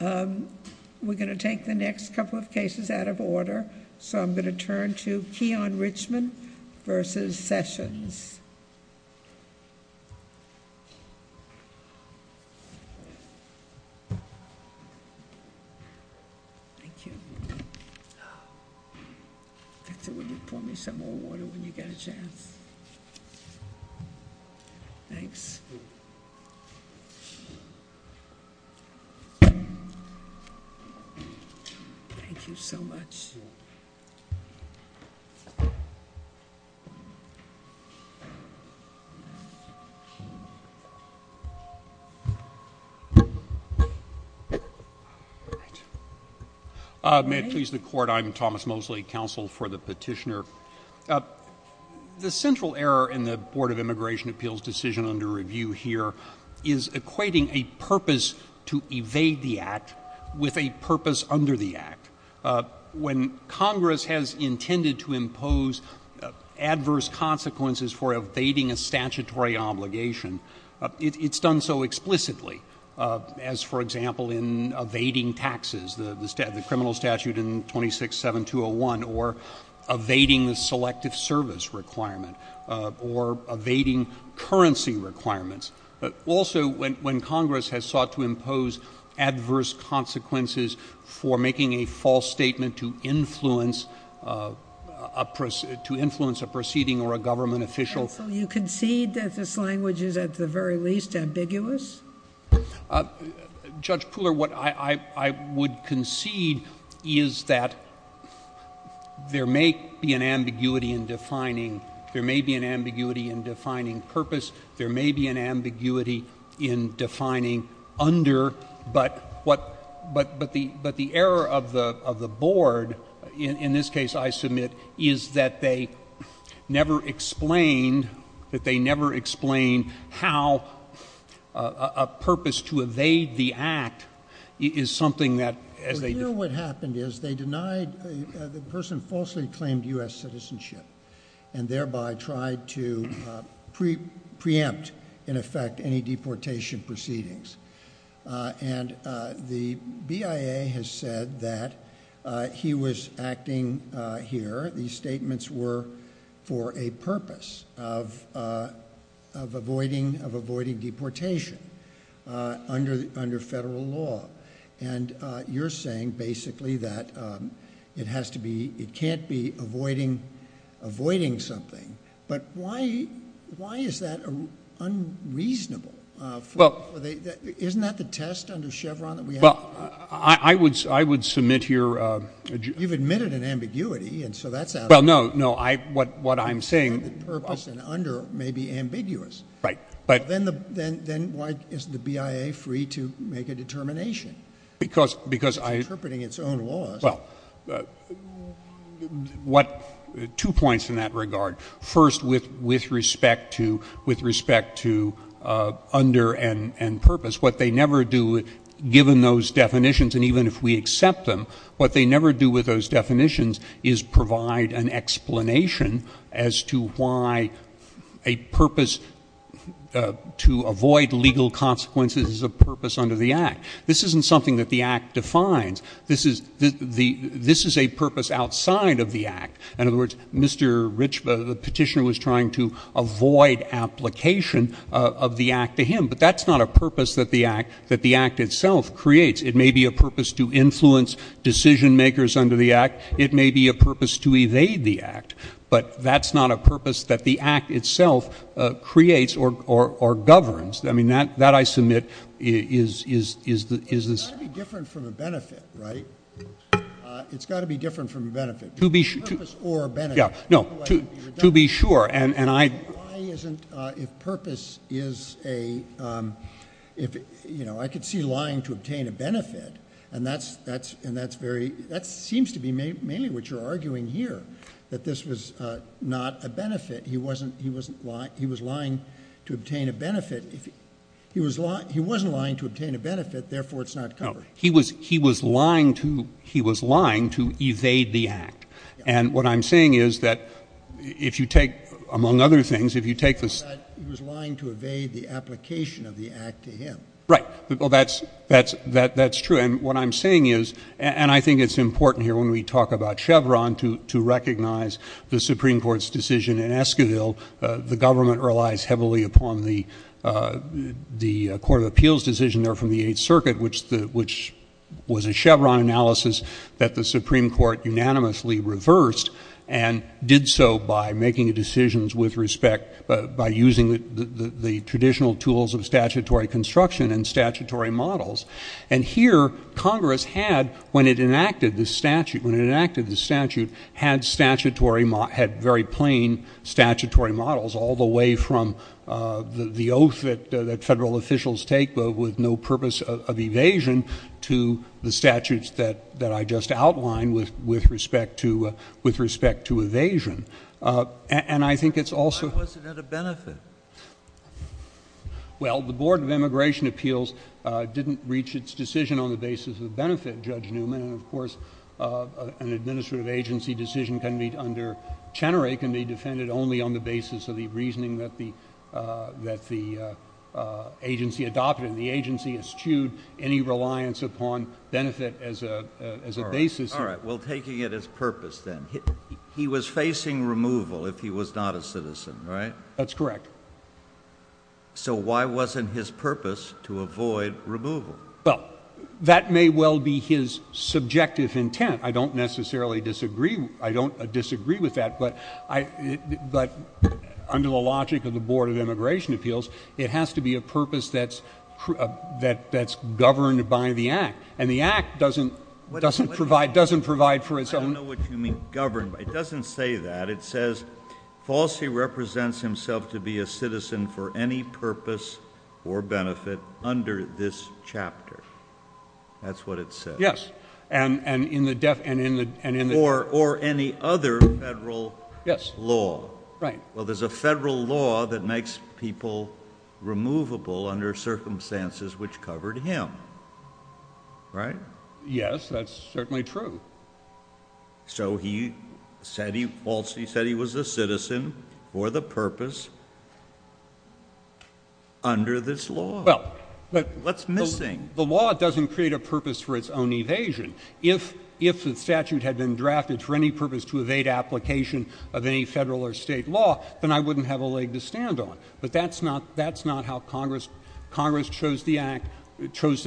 We're going to take the next couple of cases out of order, so I'm going to turn to Keon Richman versus Sessions. Thank you. Victor, will you pour me some more water when you get a chance? Thanks. Thank you so much. May it please the Court, I'm Thomas Mosley, counsel for the petitioner. The central error in the Board of Immigration Appeals decision under review here is equating a purpose to evade the Act with a purpose under the Act. When Congress has intended to impose adverse consequences for evading a statutory obligation, it's done so explicitly as, for example, in evading taxes, the criminal statute in 26-7201, or evading the selective service requirement, or evading currency requirements. Also, when Congress has sought to impose adverse consequences for making a false statement to influence a proceeding or a government official. So you concede that this language is at the very least ambiguous? Judge Pooler, what I would concede is that there may be an ambiguity in defining purpose, there may be an ambiguity in defining under, but the error of the Board, in this case I submit, is that they never explain, that they never explain how a purpose to evade the Act is something that, as they- Here what happened is they denied the person falsely claimed U.S. citizenship, and thereby tried to preempt, in effect, any deportation proceedings. And the BIA has said that he was acting here, these statements were for a purpose of avoiding deportation under federal law. And you're saying basically that it has to be, it can't be avoiding something. But why is that unreasonable? Isn't that the test under Chevron that we have? Well, I would submit here- You've admitted an ambiguity, and so that's out. Well, no, what I'm saying- Purpose and under may be ambiguous. Right, but- Then why isn't the BIA free to make a determination? Because I- It's interpreting its own laws. Well, two points in that regard. First, with respect to under and purpose, what they never do, given those definitions, and even if we accept them, what they never do with those definitions is provide an explanation as to why a purpose to avoid legal consequences is a purpose under the Act. This isn't something that the Act defines. This is a purpose outside of the Act. In other words, Mr. Rich, the petitioner was trying to avoid application of the Act to him. But that's not a purpose that the Act itself creates. It may be a purpose to influence decision-makers under the Act. It may be a purpose to evade the Act. But that's not a purpose that the Act itself creates or governs. I mean, that I submit is the- It's got to be different from a benefit, right? It's got to be different from a benefit. To be- Purpose or benefit. Yeah, no, to be sure, and I- Why isn't- if purpose is a- you know, I could see lying to obtain a benefit, and that's very- that seems to be mainly what you're arguing here, that this was not a benefit. He wasn't- he was lying to obtain a benefit. He wasn't lying to obtain a benefit, therefore it's not covered. No, he was lying to evade the Act. And what I'm saying is that if you take, among other things, if you take the- He was lying to evade the application of the Act to him. Right. Well, that's true. And what I'm saying is- and I think it's important here when we talk about Chevron to recognize the Supreme Court's decision in Esquivel. The government relies heavily upon the Court of Appeals decision there from the Eighth Circuit, which was a Chevron analysis that the Supreme Court unanimously reversed, and did so by making decisions with respect- by using the traditional tools of statutory construction and statutory models. And here Congress had, when it enacted the statute- when it enacted the statute, had statutory- had very plain statutory models all the way from the oath that federal officials take with no purpose of evasion to the statutes that I just outlined with respect to evasion. And I think it's also- Why wasn't it a benefit? Well, the Board of Immigration Appeals didn't reach its decision on the basis of benefit, Judge Newman. And, of course, an administrative agency decision can be- under Chenerey, can be defended only on the basis of the reasoning that the agency adopted. And the agency eschewed any reliance upon benefit as a basis. All right. Well, taking it as purpose then, he was facing removal if he was not a citizen, right? That's correct. So why wasn't his purpose to avoid removal? Well, that may well be his subjective intent. I don't necessarily disagree- I don't disagree with that. But under the logic of the Board of Immigration Appeals, it has to be a purpose that's governed by the Act. And the Act doesn't provide for its own- I don't know what you mean governed. It doesn't say that. But it says Falsi represents himself to be a citizen for any purpose or benefit under this chapter. That's what it says. Yes. And in the- Or any other federal law. Right. Well, there's a federal law that makes people removable under circumstances which covered him. Right? Yes, that's certainly true. So he said he was a citizen for the purpose under this law. Well- What's missing? The law doesn't create a purpose for its own evasion. If the statute had been drafted for any purpose to evade application of any federal or state law, then I wouldn't have a leg to stand on. But that's not how Congress chose the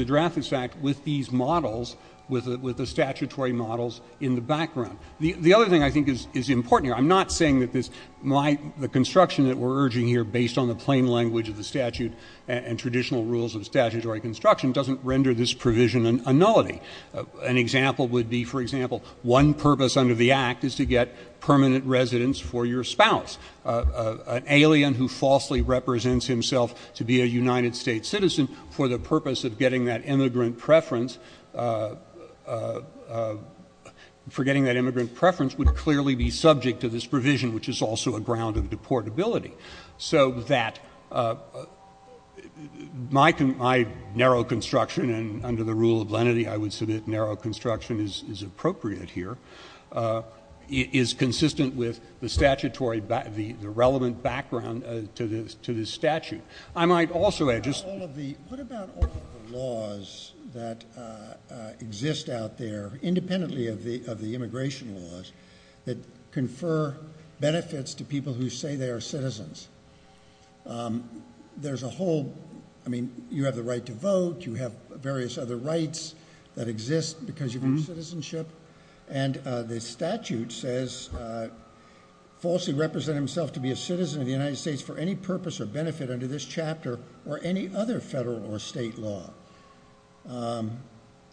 draft of this Act with these models, with the statutory models in the background. The other thing I think is important here, I'm not saying that the construction that we're urging here based on the plain language of the statute and traditional rules of statutory construction doesn't render this provision a nullity. An example would be, for example, one purpose under the Act is to get permanent residence for your spouse. An alien who falsely represents himself to be a United States citizen for the purpose of getting that immigrant preference would clearly be subject to this provision, which is also a ground of deportability. So that my narrow construction, and under the rule of lenity I would submit narrow construction is appropriate here, is consistent with the relevant background to this statute. I might also add just- What about all the laws that exist out there, independently of the immigration laws, that confer benefits to people who say they are citizens? There's a whole- I mean, you have the right to vote, you have various other rights that exist because you have citizenship, and the statute says, falsely represent himself to be a citizen of the United States for any purpose or benefit under this chapter or any other federal or state law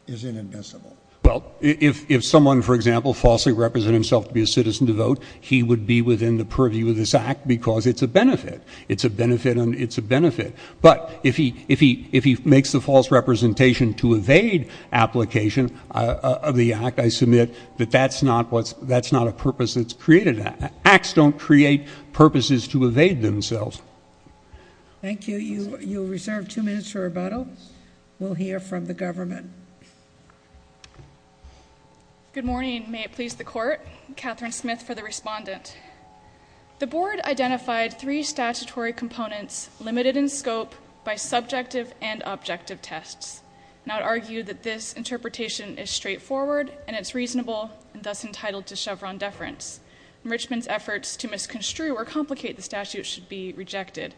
is inadmissible. Well, if someone, for example, falsely represented himself to be a citizen to vote, he would be within the purview of this Act because it's a benefit. It's a benefit and it's a benefit. But if he makes the false representation to evade application of the Act, I submit that that's not a purpose that's created. Acts don't create purposes to evade themselves. Thank you. You're reserved two minutes for rebuttal. We'll hear from the government. Good morning. May it please the Court. Catherine Smith for the respondent. The Board identified three statutory components limited in scope by subjective and objective tests, and I would argue that this interpretation is straightforward and it's reasonable and thus entitled to Chevron deference. Richmond's efforts to misconstrue or complicate the statute should be rejected.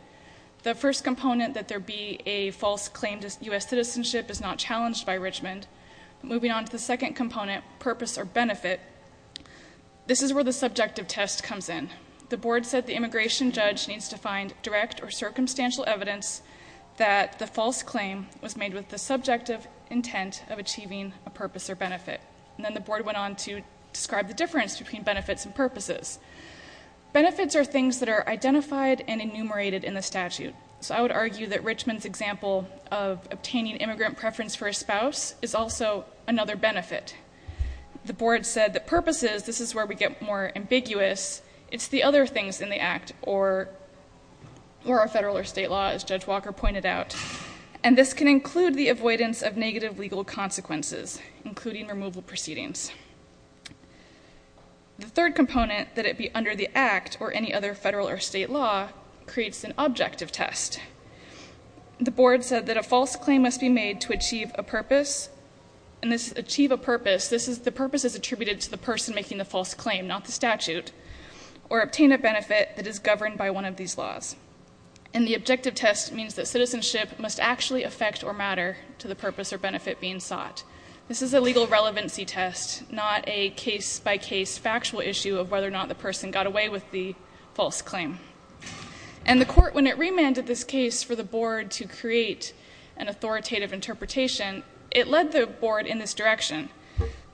The first component, that there be a false claim to U.S. citizenship, is not challenged by Richmond. Moving on to the second component, purpose or benefit, this is where the subjective test comes in. The Board said the immigration judge needs to find direct or circumstantial evidence that the false claim was made with the subjective intent of achieving a purpose or benefit. And then the Board went on to describe the difference between benefits and purposes. Benefits are things that are identified and enumerated in the statute. So I would argue that Richmond's example of obtaining immigrant preference for a spouse is also another benefit. The Board said that purposes, this is where we get more ambiguous. It's the other things in the Act or our federal or state law, as Judge Walker pointed out. And this can include the avoidance of negative legal consequences, including removal proceedings. The third component, that it be under the Act or any other federal or state law, creates an objective test. The Board said that a false claim must be made to achieve a purpose, and this is achieve a purpose, this is the purpose is attributed to the person making the false claim, not the statute, or obtain a benefit that is governed by one of these laws. And the objective test means that citizenship must actually affect or matter to the purpose or benefit being sought. This is a legal relevancy test, not a case-by-case factual issue of whether or not the person got away with the false claim. And the Court, when it remanded this case for the Board to create an authoritative interpretation, it led the Board in this direction.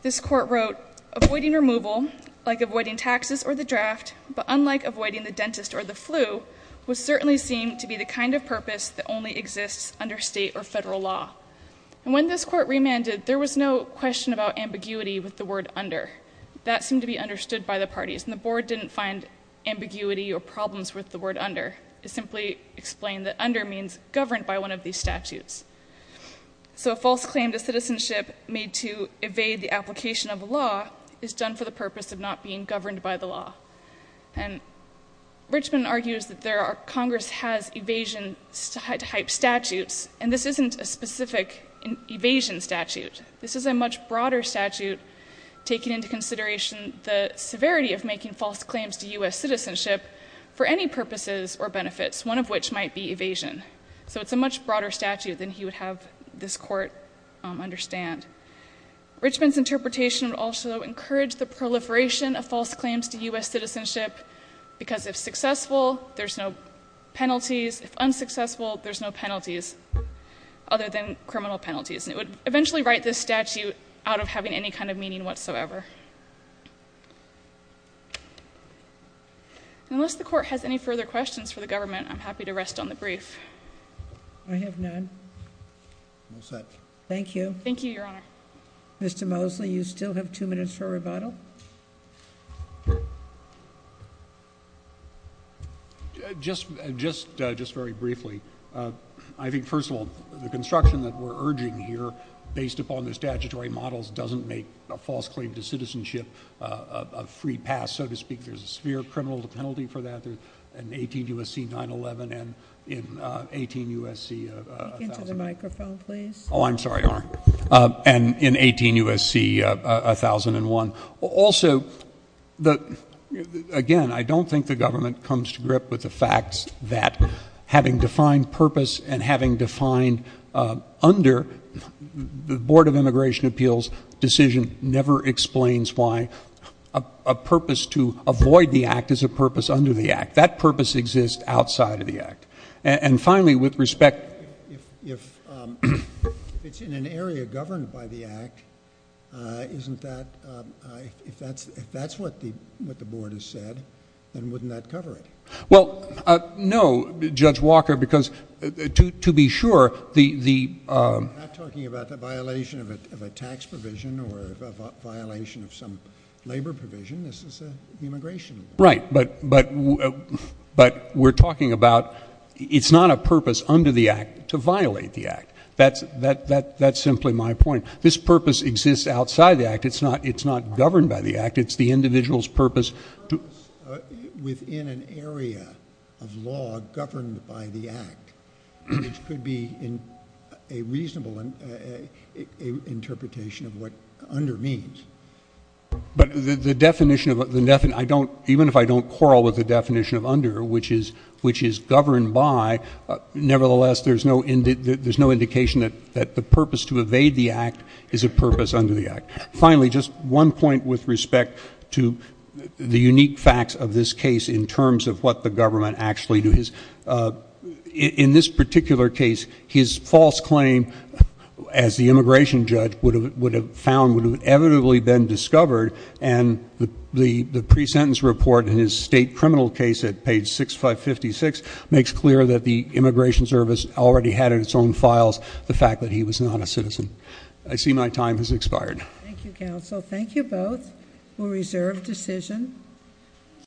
This Court wrote, avoiding removal, like avoiding taxes or the draft, but unlike avoiding the dentist or the flu, would certainly seem to be the kind of purpose that only exists under state or federal law. And when this Court remanded, there was no question about ambiguity with the word under. That seemed to be understood by the parties, and the Board didn't find ambiguity or problems with the word under. It simply explained that under means governed by one of these statutes. So a false claim to citizenship made to evade the application of a law is done for the purpose of not being governed by the law. And Richmond argues that Congress has evasion-type statutes, and this isn't a specific evasion statute. This is a much broader statute taking into consideration the severity of making false claims to U.S. citizenship for any purposes or benefits, one of which might be evasion. So it's a much broader statute than he would have this Court understand. Richmond's interpretation would also encourage the proliferation of false claims to U.S. citizenship, because if successful, there's no penalties. If unsuccessful, there's no penalties other than criminal penalties. And it would eventually write this statute out of having any kind of meaning whatsoever. Unless the Court has any further questions for the government, I'm happy to rest on the brief. I have none. All set. Thank you. Thank you, Your Honor. Mr. Mosley, you still have two minutes for rebuttal. Just very briefly, I think, first of all, the construction that we're urging here based upon the statutory models doesn't make a false claim to citizenship a free pass, so to speak. There's a severe criminal penalty for that in 18 U.S.C. 911 and in 18 U.S.C. 1001. Speak into the microphone, please. Oh, I'm sorry, Your Honor. And in 18 U.S.C. 1001. Also, again, I don't think the government comes to grip with the facts that having defined purpose and having defined under the Board of Immigration Appeals decision never explains why a purpose to avoid the Act is a purpose under the Act. That purpose exists outside of the Act. And finally, with respect, if it's in an area governed by the Act, if that's what the Board has said, then wouldn't that cover it? Well, no, Judge Walker, because to be sure, the- I'm not talking about the violation of a tax provision or a violation of some labor provision. This is immigration. Right, but we're talking about it's not a purpose under the Act to violate the Act. That's simply my point. This purpose exists outside the Act. It's not governed by the Act. It's the individual's purpose to- A purpose within an area of law governed by the Act, which could be a reasonable interpretation of what under means. But the definition of- I don't- even if I don't quarrel with the definition of under, which is governed by, nevertheless, there's no indication that the purpose to evade the Act is a purpose under the Act. Finally, just one point with respect to the unique facts of this case in terms of what the government actually do is, in this particular case, his false claim as the immigration judge would have found would have inevitably been discovered, and the pre-sentence report in his state criminal case at page 6556 makes clear that the Immigration Service already had in its own files the fact that he was not a citizen. I see my time has expired. Thank you, counsel. Thank you both. We'll reserve decision.